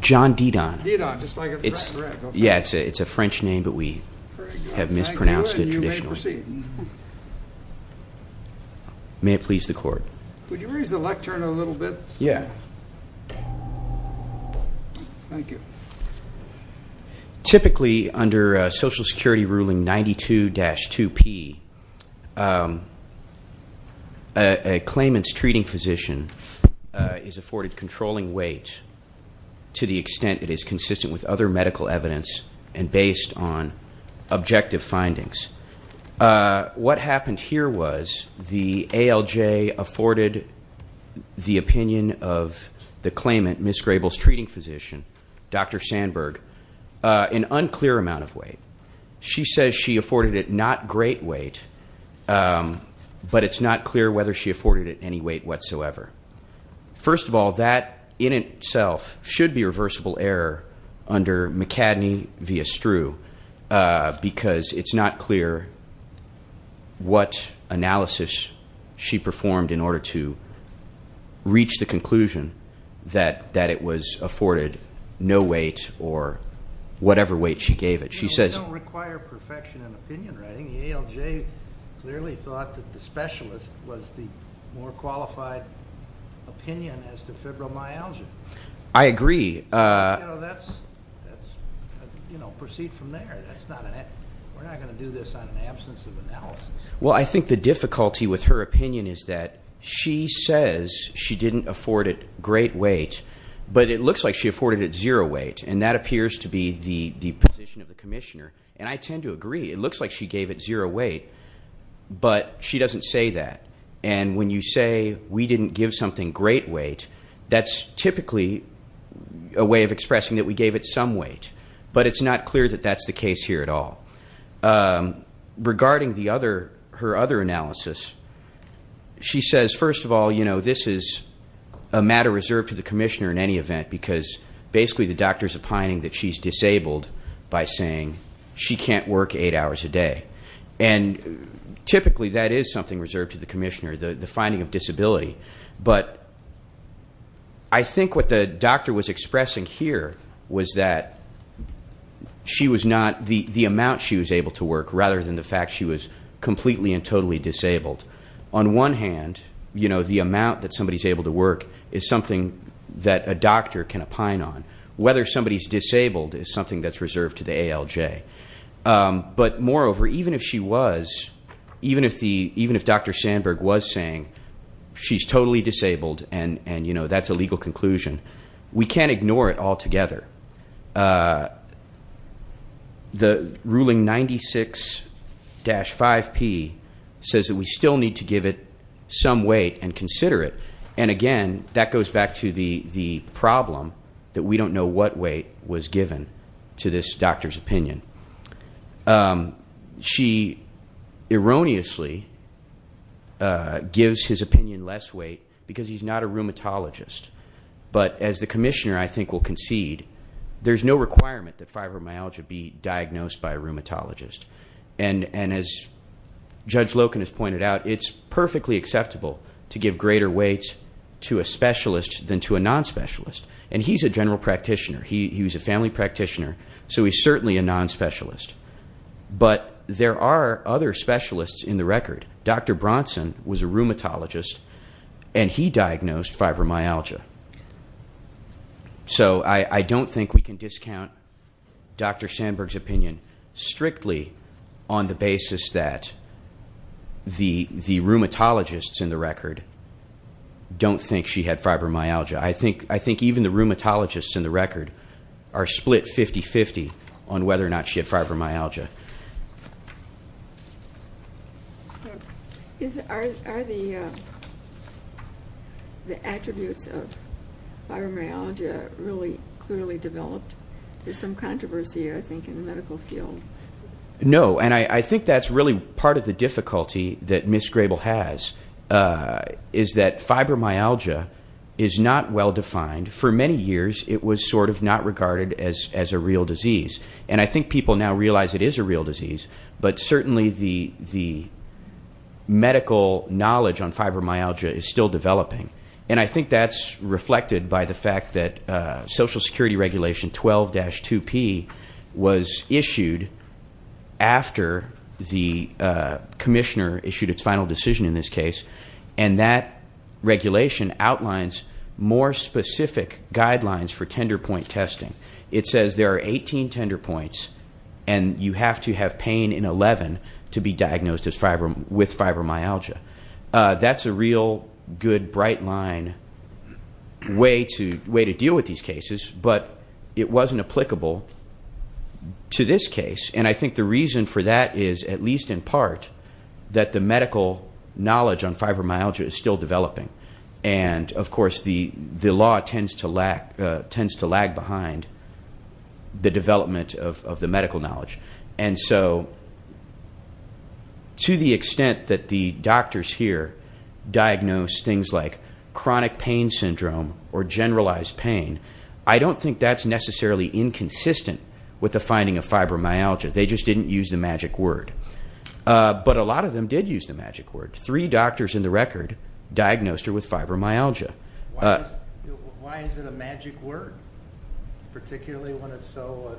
John Didon Typically under Social Security ruling 92-2P a claimant's treating physician is afforded controlling weight to the extent it is consistent with other medical evidence and based on objective findings. What happened here was the ALJ afforded the opinion of the claimant, Ms. Grable's treating physician, Dr. Sandberg, an unclear amount of weight. She says she afforded it not great weight, but it's not clear whether she afforded it any weight whatsoever. First of all, that in itself should be a reversible error under McCadney v. Struh because it's not clear what analysis she performed in order to reach the conclusion that it was afforded no weight or whatever weight she gave it. We don't require perfection in opinion writing. The ALJ clearly thought that the specialist was the more qualified opinion as to febrile myalgia. I agree. You know, proceed from there. We're not going to do this on an absence of analysis. Well, I think the difficulty with her opinion is that she says she didn't afford it great weight, but it looks like she afforded it zero weight, and that appears to be the position of the commissioner, and I tend to agree. It looks like she gave it zero weight, but she doesn't say that, and when you say we didn't give something great weight, that's typically a way of expressing that we gave it some weight, but it's not clear that that's the case here at all. Regarding her other analysis, she says, first of all, you know, this is a matter reserved to the commissioner in any event because basically the doctor's opining that she's disabled by saying she can't work eight hours a day, and typically that is something reserved to the commissioner, the finding of disability, but I think what the doctor was expressing here was that she was not the amount she was able to work rather than the fact she was completely and totally disabled. On one hand, you know, the amount that somebody's able to work is something that a doctor can opine on. Whether somebody's disabled is something that's reserved to the ALJ, but moreover, even if she was, even if Dr. Sandberg was saying she's totally disabled and, you know, that's a legal conclusion, we can't ignore it altogether. The ruling 96-5P says that we still need to give it some weight and consider it, and again, that goes back to the problem that we don't know what weight was given to this doctor's opinion. She erroneously gives his opinion less weight because he's not a rheumatologist, but as the commissioner, I think, will concede, there's no requirement that fibromyalgia be diagnosed by a rheumatologist, and as Judge Loken has pointed out, it's perfectly acceptable to give greater weight to a specialist than to a non-specialist, and he's a general practitioner. He was a family practitioner, so he's certainly a non-specialist, but there are other specialists in the record. Dr. Bronson was a rheumatologist, and he diagnosed fibromyalgia. So I don't think we can discount Dr. Sandberg's opinion strictly on the basis that the rheumatologists in the record don't think she had fibromyalgia. I think even the rheumatologists in the record are split 50-50 on whether or not she had fibromyalgia. Are the attributes of fibromyalgia really clearly developed? There's some controversy, I think, in the medical field. No, and I think that's really part of the difficulty that Ms. Grable has, is that fibromyalgia is not well-defined. For many years, it was sort of not regarded as a real disease, and I think people now realize it is a real disease, but certainly the medical knowledge on fibromyalgia is still developing, and I think that's reflected by the fact that Social Security Regulation 12-2P was issued after the commissioner issued its final decision in this case, and that regulation outlines more specific guidelines for tender point testing. It says there are 18 tender points, and you have to have pain in 11 to be diagnosed with fibromyalgia. That's a real good, bright-line way to deal with these cases, but it wasn't applicable to this case, and I think the reason for that is, at least in part, that the medical knowledge on fibromyalgia is still developing, and of course the law tends to lag behind the development of the medical knowledge, and so to the extent that the doctors here diagnose things like chronic pain syndrome or generalized pain, I don't think that's necessarily inconsistent with the finding of fibromyalgia. They just didn't use the magic word, but a lot of them did use the magic word. Three doctors in the record diagnosed her with fibromyalgia. Why is it a magic word, particularly when it's so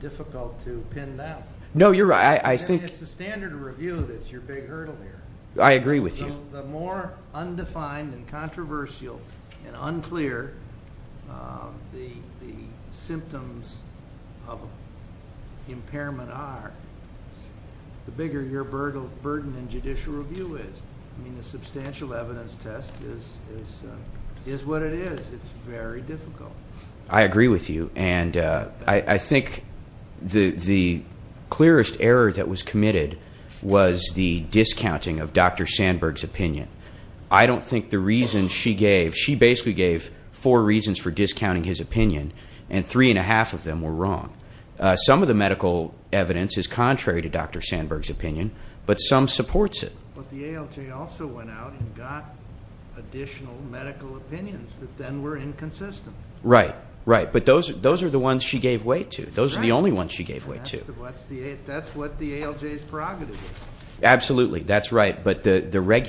difficult to pin down? No, you're right. It's the standard review that's your big hurdle here. I agree with you. The more undefined and controversial and unclear the symptoms of impairment are, the bigger your burden in judicial review is. I mean, the substantial evidence test is what it is. It's very difficult. I agree with you, and I think the clearest error that was committed was the discounting of Dr. Sandberg's opinion. I don't think the reasons she gave, she basically gave four reasons for discounting his opinion, and three and a half of them were wrong. Some of the medical evidence is contrary to Dr. Sandberg's opinion, but some supports it. But the ALJ also went out and got additional medical opinions that then were inconsistent. Right, right. But those are the ones she gave weight to. Those are the only ones she gave weight to. That's what the ALJ's prerogative is. Absolutely, that's right. But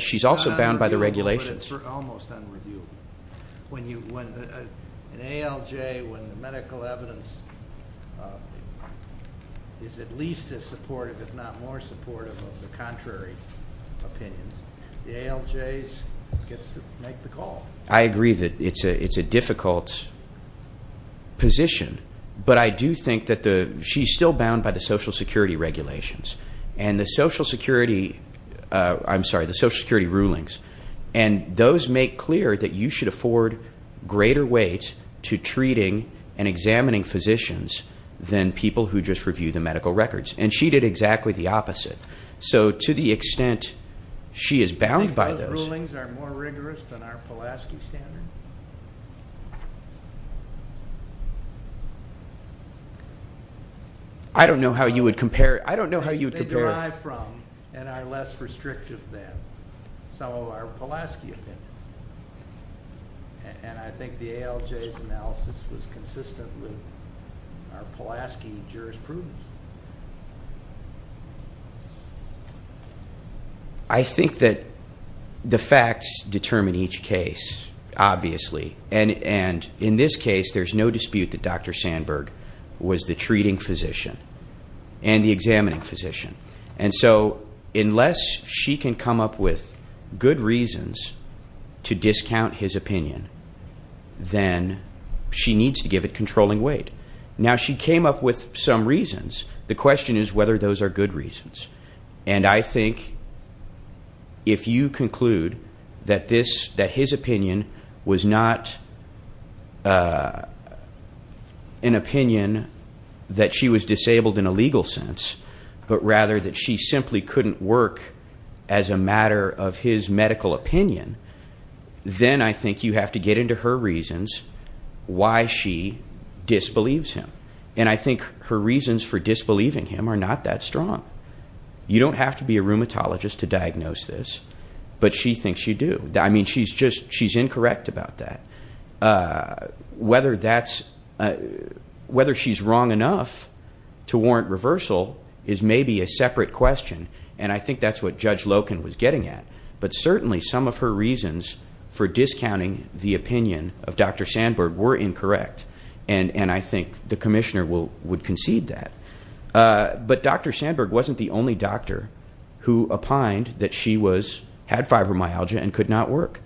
she's also bound by the regulations. It's almost unreviewable. An ALJ, when the medical evidence is at least as supportive, if not more supportive, of the contrary opinions, the ALJ gets to make the call. I agree that it's a difficult position, but I do think that she's still bound by the Social Security regulations and the Social Security rulings, and those make clear that you should afford greater weight to treating and examining physicians than people who just review the medical records. And she did exactly the opposite. So to the extent she is bound by those. Do you think those rulings are more rigorous than our Pulaski standard? I don't know how you would compare it. They derive from and are less restrictive than. Some of our Pulaski opinions. And I think the ALJ's analysis was consistent with our Pulaski jurisprudence. I think that the facts determine each case, obviously. And in this case, there's no dispute that Dr. Sandberg was the treating physician and the examining physician. And so unless she can come up with good reasons to discount his opinion, then she needs to give it controlling weight. Now, she came up with some reasons. The question is whether those are good reasons. And I think if you conclude that his opinion was not an opinion that she was disabled in a legal sense, but rather that she simply couldn't work as a matter of his medical opinion, then I think you have to get into her reasons why she disbelieves him. And I think her reasons for disbelieving him are not that strong. You don't have to be a rheumatologist to diagnose this. But she thinks you do. I mean, she's incorrect about that. Whether she's wrong enough to warrant reversal is maybe a separate question, and I think that's what Judge Loken was getting at. But certainly some of her reasons for discounting the opinion of Dr. Sandberg were incorrect, and I think the commissioner would concede that. But Dr. Sandberg wasn't the only doctor who opined that she had fibromyalgia and could not work.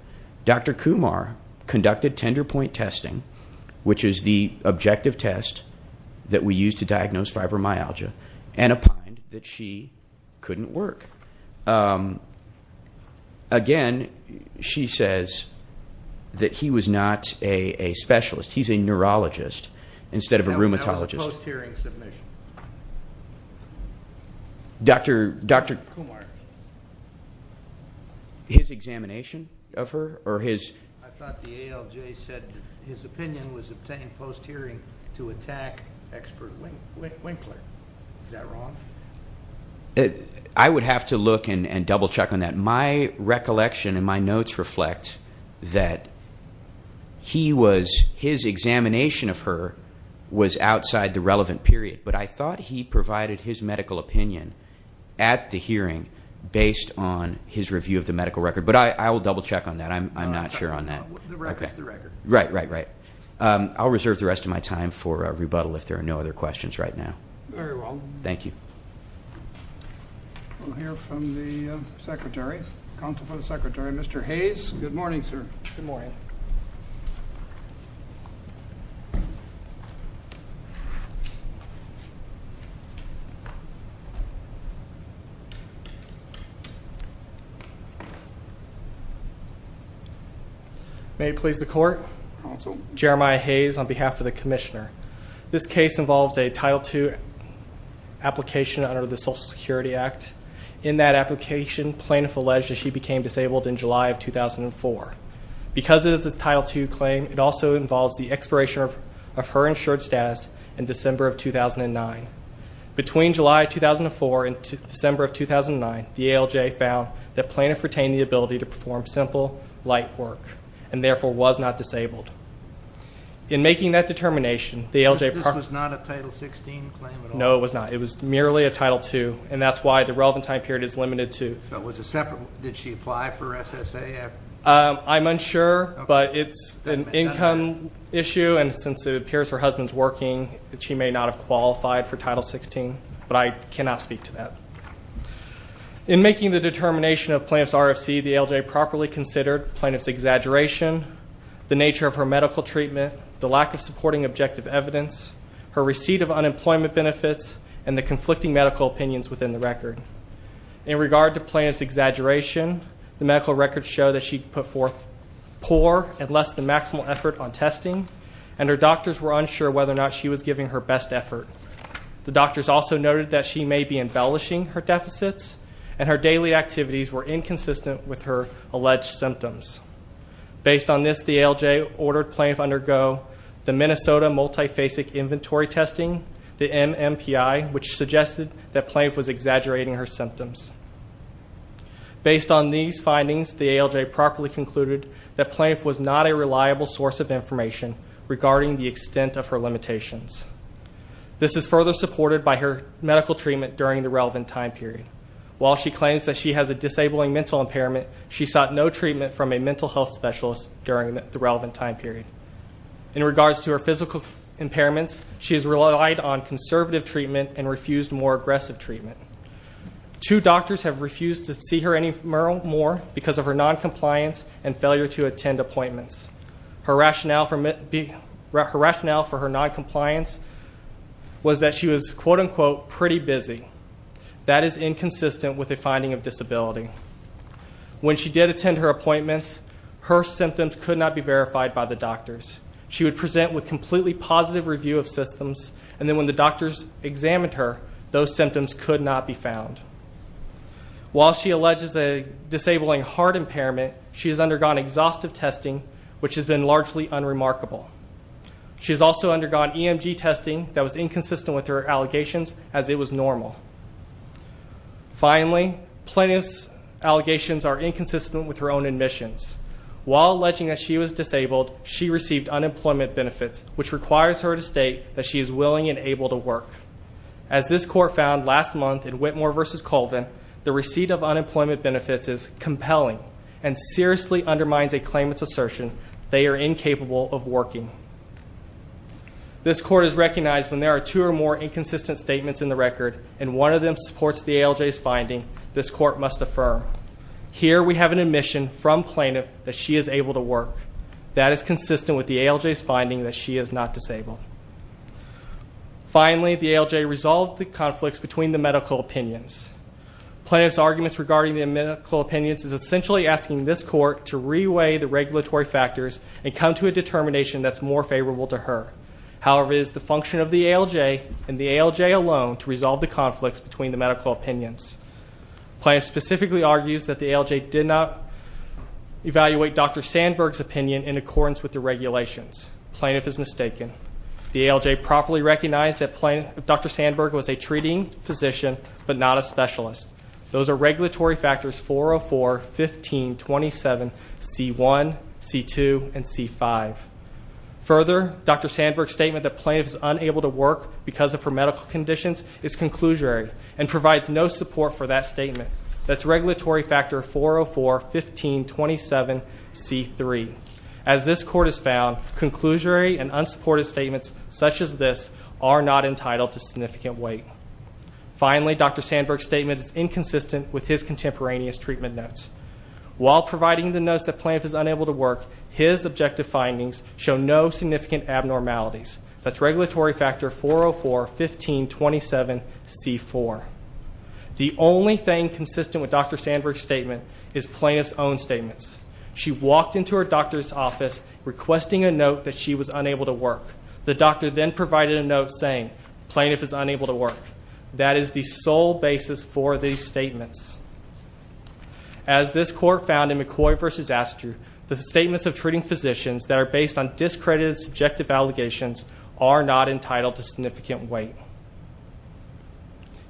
Dr. Kumar conducted tender point testing, which is the objective test that we use to diagnose fibromyalgia, and opined that she couldn't work. Again, she says that he was not a specialist. He's a neurologist instead of a rheumatologist. That was a post-hearing submission. Dr. Kumar, his examination of her or his? I thought the ALJ said his opinion was obtained post-hearing to attack expert Winkler. Is that wrong? I would have to look and double-check on that. My recollection and my notes reflect that his examination of her was outside the relevant period, but I thought he provided his medical opinion at the hearing based on his review of the medical record. But I will double-check on that. I'm not sure on that. The record is the record. Right, right, right. I'll reserve the rest of my time for rebuttal if there are no other questions right now. Very well. Thank you. We'll hear from the secretary, counsel for the secretary, Mr. Hayes. Good morning, sir. Good morning. May it please the court. Counsel. Jeremiah Hayes on behalf of the commissioner. This case involves a Title II application under the Social Security Act. In that application, plaintiff alleged that she became disabled in July of 2004. Because it is a Title II claim, it also involves the expiration of her insured status in December of 2009. Between July of 2004 and December of 2009, the ALJ found that plaintiff retained the ability to perform simple, light work and, therefore, was not disabled. In making that determination, the ALJ ---- This was not a Title XVI claim at all? No, it was not. And that's why the relevant time period is limited to. So it was a separate? Did she apply for SSA after? I'm unsure, but it's an income issue. And since it appears her husband's working, she may not have qualified for Title XVI. But I cannot speak to that. In making the determination of plaintiff's RFC, the ALJ properly considered plaintiff's exaggeration, the nature of her medical treatment, the lack of supporting objective evidence, her receipt of unemployment benefits, and the conflicting medical opinions within the record. In regard to plaintiff's exaggeration, the medical records show that she put forth poor and less than maximal effort on testing, and her doctors were unsure whether or not she was giving her best effort. The doctors also noted that she may be embellishing her deficits, and her daily activities were inconsistent with her alleged symptoms. Based on this, the ALJ ordered plaintiff undergo the Minnesota Multifacet Inventory Testing, the MMPI, which suggested that plaintiff was exaggerating her symptoms. Based on these findings, the ALJ properly concluded that plaintiff was not a reliable source of information regarding the extent of her limitations. This is further supported by her medical treatment during the relevant time period. While she claims that she has a disabling mental impairment, she sought no treatment from a mental health specialist during the relevant time period. In regards to her physical impairments, she has relied on conservative treatment and refused more aggressive treatment. Two doctors have refused to see her anymore because of her noncompliance and failure to attend appointments. Her rationale for her noncompliance was that she was, quote unquote, pretty busy. That is inconsistent with a finding of disability. When she did attend her appointments, her symptoms could not be verified by the doctors. She would present with completely positive review of systems, and then when the doctors examined her, those symptoms could not be found. While she alleges a disabling heart impairment, she has undergone exhaustive testing, which has been largely unremarkable. She has also undergone EMG testing that was inconsistent with her allegations, as it was normal. Finally, plaintiff's allegations are inconsistent with her own admissions. While alleging that she was disabled, she received unemployment benefits, which requires her to state that she is willing and able to work. As this court found last month in Whitmore v. Colvin, the receipt of unemployment benefits is compelling and seriously undermines a claimant's assertion they are incapable of working. This court has recognized when there are two or more inconsistent statements in the record, and one of them supports the ALJ's finding, this court must affirm. Here we have an admission from plaintiff that she is able to work. That is consistent with the ALJ's finding that she is not disabled. Finally, the ALJ resolved the conflicts between the medical opinions. Plaintiff's arguments regarding the medical opinions is essentially asking this court to reweigh the regulatory factors and come to a determination that's more favorable to her. However, it is the function of the ALJ and the ALJ alone to resolve the conflicts between the medical opinions. Plaintiff specifically argues that the ALJ did not evaluate Dr. Sandberg's opinion in accordance with the regulations. Plaintiff is mistaken. The ALJ properly recognized that Dr. Sandberg was a treating physician, but not a specialist. Those are regulatory factors 404, 15, 27, C1, C2, and C5. Further, Dr. Sandberg's statement that plaintiff is unable to work because of her medical conditions is conclusory and provides no support for that statement. That's regulatory factor 404, 15, 27, C3. As this court has found, conclusory and unsupported statements such as this are not entitled to significant weight. Finally, Dr. Sandberg's statement is inconsistent with his contemporaneous treatment notes. While providing the notes that plaintiff is unable to work, his objective findings show no significant abnormalities. That's regulatory factor 404, 15, 27, C4. The only thing consistent with Dr. Sandberg's statement is plaintiff's own statements. She walked into her doctor's office requesting a note that she was unable to work. The doctor then provided a note saying, plaintiff is unable to work. That is the sole basis for these statements. As this court found in McCoy v. Astor, the statements of treating physicians that are based on discredited, subjective allegations are not entitled to significant weight.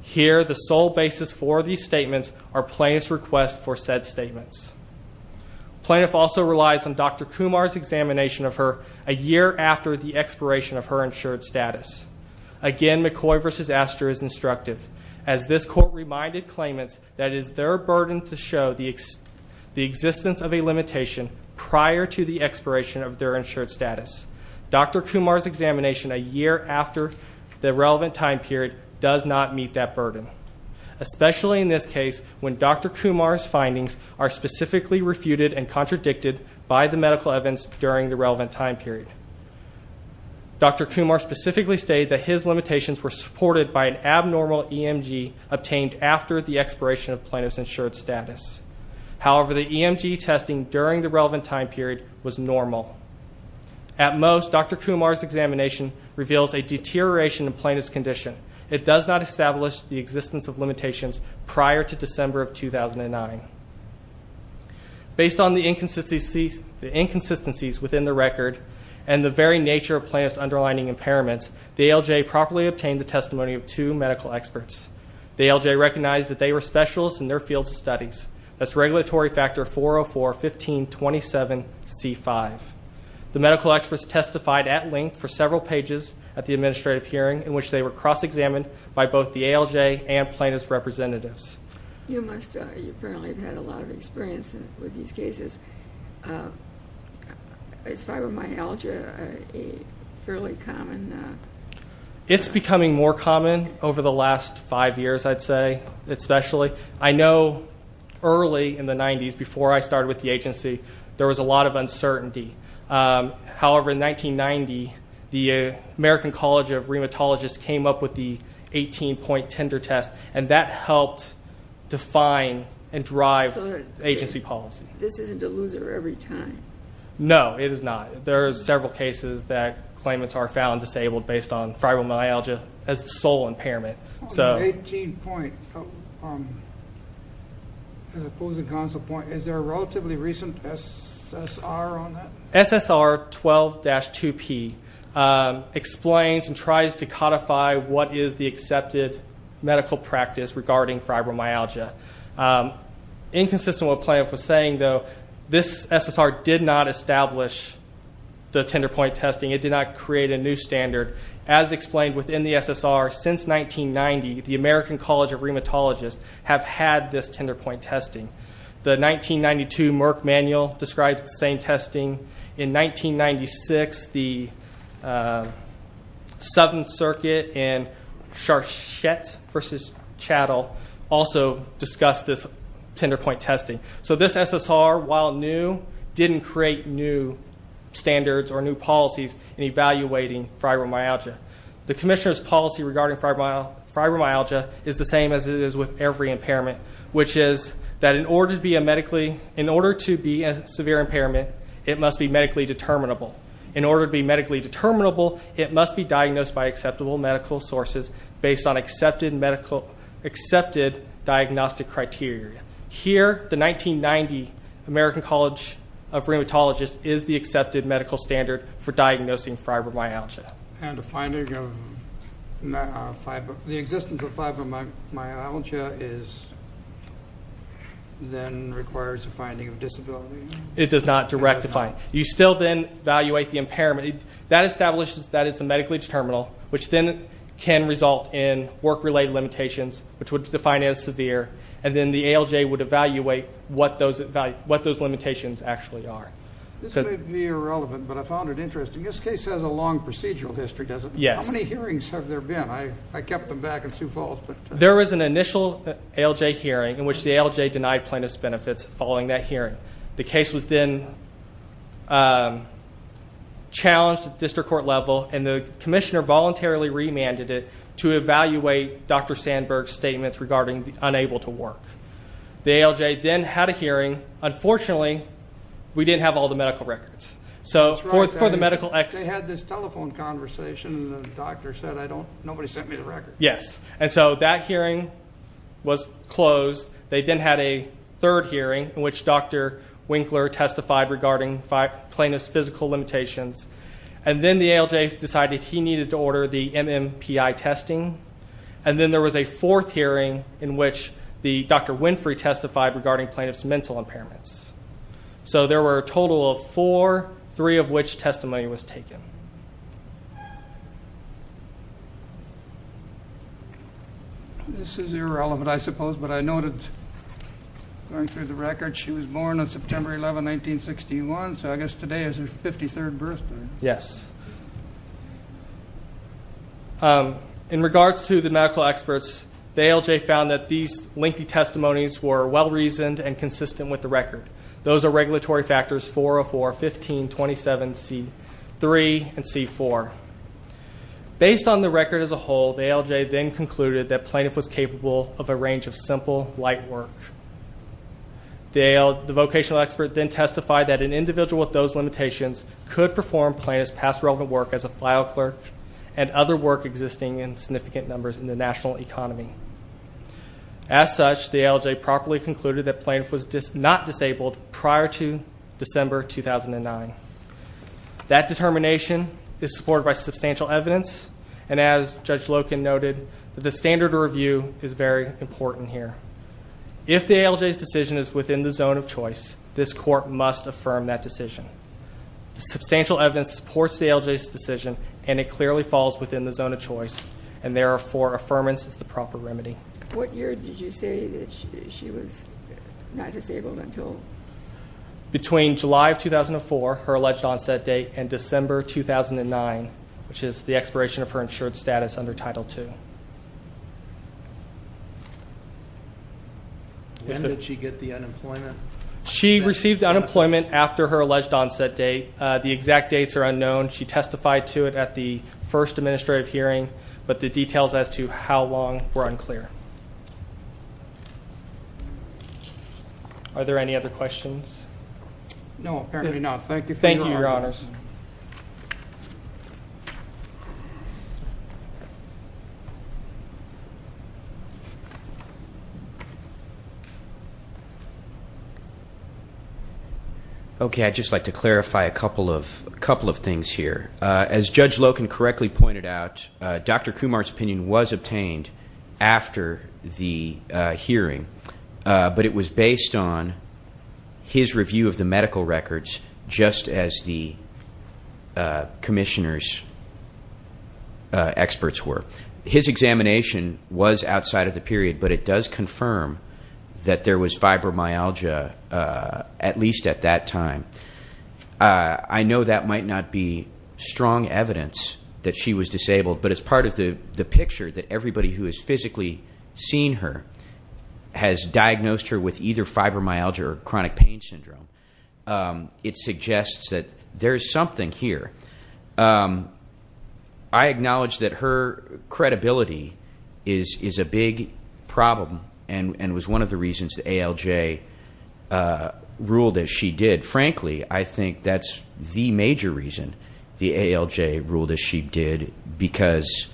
Here, the sole basis for these statements are plaintiff's request for said statements. Plaintiff also relies on Dr. Kumar's examination of her a year after the expiration of her insured status. Again, McCoy v. Astor is instructive. As this court reminded claimants that it is their burden to show the existence of a limitation prior to the expiration of their insured status. Dr. Kumar's examination a year after the relevant time period does not meet that burden. Especially in this case, when Dr. Kumar's findings are specifically refuted and contradicted by the medical evidence during the relevant time period. Dr. Kumar specifically stated that his limitations were supported by an abnormal EMG obtained after the expiration of plaintiff's insured status. However, the EMG testing during the relevant time period was normal. At most, Dr. Kumar's examination reveals a deterioration in plaintiff's condition. It does not establish the existence of limitations prior to December of 2009. Based on the inconsistencies within the record and the very nature of plaintiff's underlining impairments, the ALJ properly obtained the testimony of two medical experts. The ALJ recognized that they were specialists in their fields of studies. That's regulatory factor 404-1527-C5. The medical experts testified at length for several pages at the administrative hearing in which they were cross-examined by both the ALJ and plaintiff's representatives. You apparently have had a lot of experience with these cases. Is fibromyalgia fairly common now? It's becoming more common over the last five years, I'd say, especially. I know early in the 90s, before I started with the agency, there was a lot of uncertainty. However, in 1990, the American College of Rheumatologists came up with the 18-point tender test, and that helped define and drive agency policy. This isn't a loser every time. No, it is not. There are several cases that claimants are found disabled based on fibromyalgia as the sole impairment. The 18-point, as opposed to the console point, is there a relatively recent SSR on that? SSR 12-2P explains and tries to codify what is the accepted medical practice regarding fibromyalgia. Inconsistent with what plaintiff was saying, though, this SSR did not establish the tender point testing. It did not create a new standard. As explained within the SSR, since 1990, the American College of Rheumatologists have had this tender point testing. The 1992 Merck Manual describes the same testing. In 1996, the Southern Circuit and Charchette v. Chattel also discussed this tender point testing. So this SSR, while new, didn't create new standards or new policies in evaluating fibromyalgia. The commissioner's policy regarding fibromyalgia is the same as it is with every impairment, which is that in order to be a severe impairment, it must be medically determinable. In order to be medically determinable, it must be diagnosed by acceptable medical sources based on accepted diagnostic criteria. Here, the 1990 American College of Rheumatologists is the accepted medical standard for diagnosing fibromyalgia. And the existence of fibromyalgia then requires a finding of disability? It does not. You still then evaluate the impairment. That establishes that it's medically determinable, which then can result in work-related limitations, which would define it as severe, and then the ALJ would evaluate what those limitations actually are. This may be irrelevant, but I found it interesting. This case has a long procedural history, doesn't it? Yes. How many hearings have there been? I kept them back in Sioux Falls. There was an initial ALJ hearing in which the ALJ denied plaintiff's benefits following that hearing. The case was then challenged at district court level, and the commissioner voluntarily remanded it to evaluate Dr. Sandberg's statements regarding the unable to work. The ALJ then had a hearing. Unfortunately, we didn't have all the medical records. They had this telephone conversation, and the doctor said, nobody sent me the records. Yes. And so that hearing was closed. They then had a third hearing in which Dr. Winkler testified regarding plaintiff's physical limitations, and then the ALJ decided he needed to order the MMPI testing, and then there was a fourth hearing in which Dr. Winfrey testified regarding plaintiff's mental impairments. So there were a total of four, three of which testimony was taken. This is irrelevant, I suppose, but I noted going through the records she was born on September 11, 1961, so I guess today is her 53rd birthday. Yes. In regards to the medical experts, the ALJ found that these lengthy testimonies were well-reasoned and consistent with the record. Those are regulatory factors 404, 15, 27, C3, and C4. Based on the record as a whole, the ALJ then concluded that plaintiff was capable of a range of simple, light work. The vocational expert then testified that an individual with those limitations could perform plaintiff's past relevant work as a file clerk and other work existing in significant numbers in the national economy. As such, the ALJ properly concluded that plaintiff was not disabled prior to December 2009. That determination is supported by substantial evidence, and as Judge Loken noted, the standard of review is very important here. If the ALJ's decision is within the zone of choice, this court must affirm that decision. Substantial evidence supports the ALJ's decision, and it clearly falls within the zone of choice, and therefore, affirmance is the proper remedy. What year did you say that she was not disabled until? Between July of 2004, her alleged onset date, and December 2009, which is the expiration of her insured status under Title II. When did she get the unemployment? She received unemployment after her alleged onset date. The exact dates are unknown. She testified to it at the first administrative hearing, but the details as to how long were unclear. Are there any other questions? No, apparently not. Thank you, Your Honors. Okay, I'd just like to clarify a couple of things here. As Judge Loken correctly pointed out, Dr. Kumar's opinion was obtained after the hearing, but it was based on his review of the medical records, just as the Commissioner's experts were. His examination was outside of the period, but it does confirm that there was fibromyalgia, at least at that time. I know that might not be strong evidence that she was disabled, but as part of the picture that everybody who has physically seen her has diagnosed her with either fibromyalgia or chronic pain syndrome, it suggests that there is something here. I acknowledge that her credibility is a big problem and was one of the reasons the ALJ ruled as she did. But frankly, I think that's the major reason the ALJ ruled as she did, because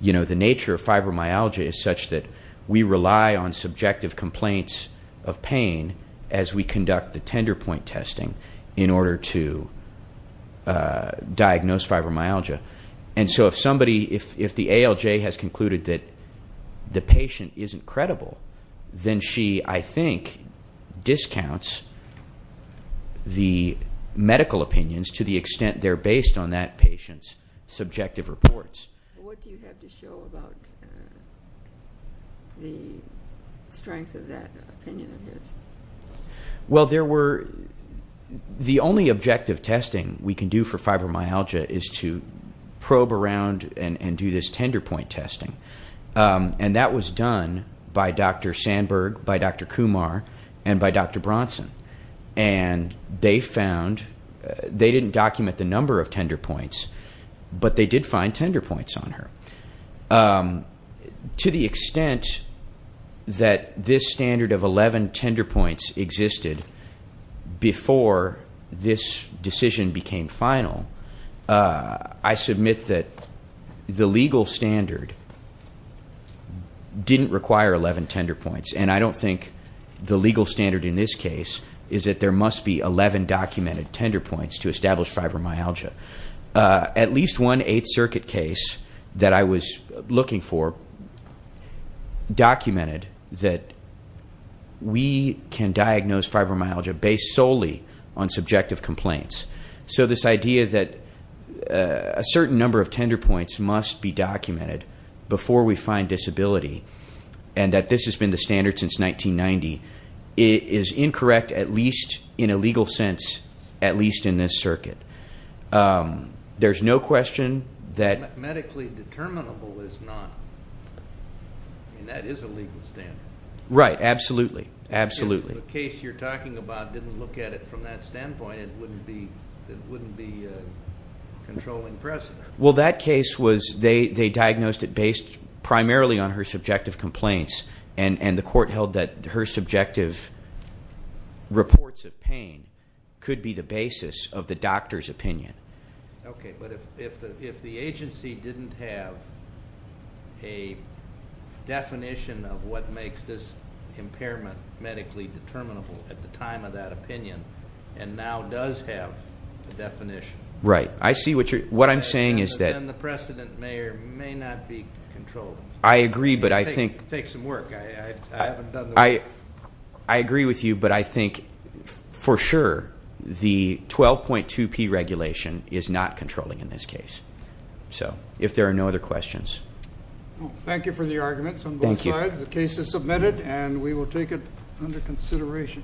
the nature of fibromyalgia is such that we rely on subjective complaints of pain as we conduct the tender point testing in order to diagnose fibromyalgia. And so if the ALJ has concluded that the patient isn't credible, then she, I think, discounts the medical opinions to the extent they're based on that patient's subjective reports. What do you have to show about the strength of that opinion of his? Well, the only objective testing we can do for fibromyalgia is to probe around and do this tender point testing. And that was done by Dr. Sandberg, by Dr. Kumar, and by Dr. Bronson. And they didn't document the number of tender points, but they did find tender points on her. To the extent that this standard of 11 tender points existed before this decision became final, I submit that the legal standard didn't require 11 tender points. And I don't think the legal standard in this case is that there must be 11 documented tender points to establish fibromyalgia. At least one Eighth Circuit case that I was looking for documented that we can diagnose fibromyalgia based solely on subjective complaints. So this idea that a certain number of tender points must be documented before we find disability, and that this has been the standard since 1990, is incorrect, at least in a legal sense, at least in this circuit. There's no question that... Medically determinable is not. I mean, that is a legal standard. Right. Absolutely. Absolutely. If the case you're talking about didn't look at it from that standpoint, it wouldn't be controlling precedent. Well, that case was, they diagnosed it based primarily on her subjective complaints. And the court held that her subjective reports of pain could be the basis of the doctor's opinion. Okay, but if the agency didn't have a definition of what makes this impairment medically determinable at the time of that opinion, and now does have a definition. Right. I see what you're... What I'm saying is that... Then the precedent may or may not be controlled. I agree, but I think... It takes some work. I haven't done the work. I agree with you, but I think, for sure, the 12.2p regulation is not controlling in this case. So, if there are no other questions. Thank you for the arguments on both sides. The case is submitted, and we will take it under consideration.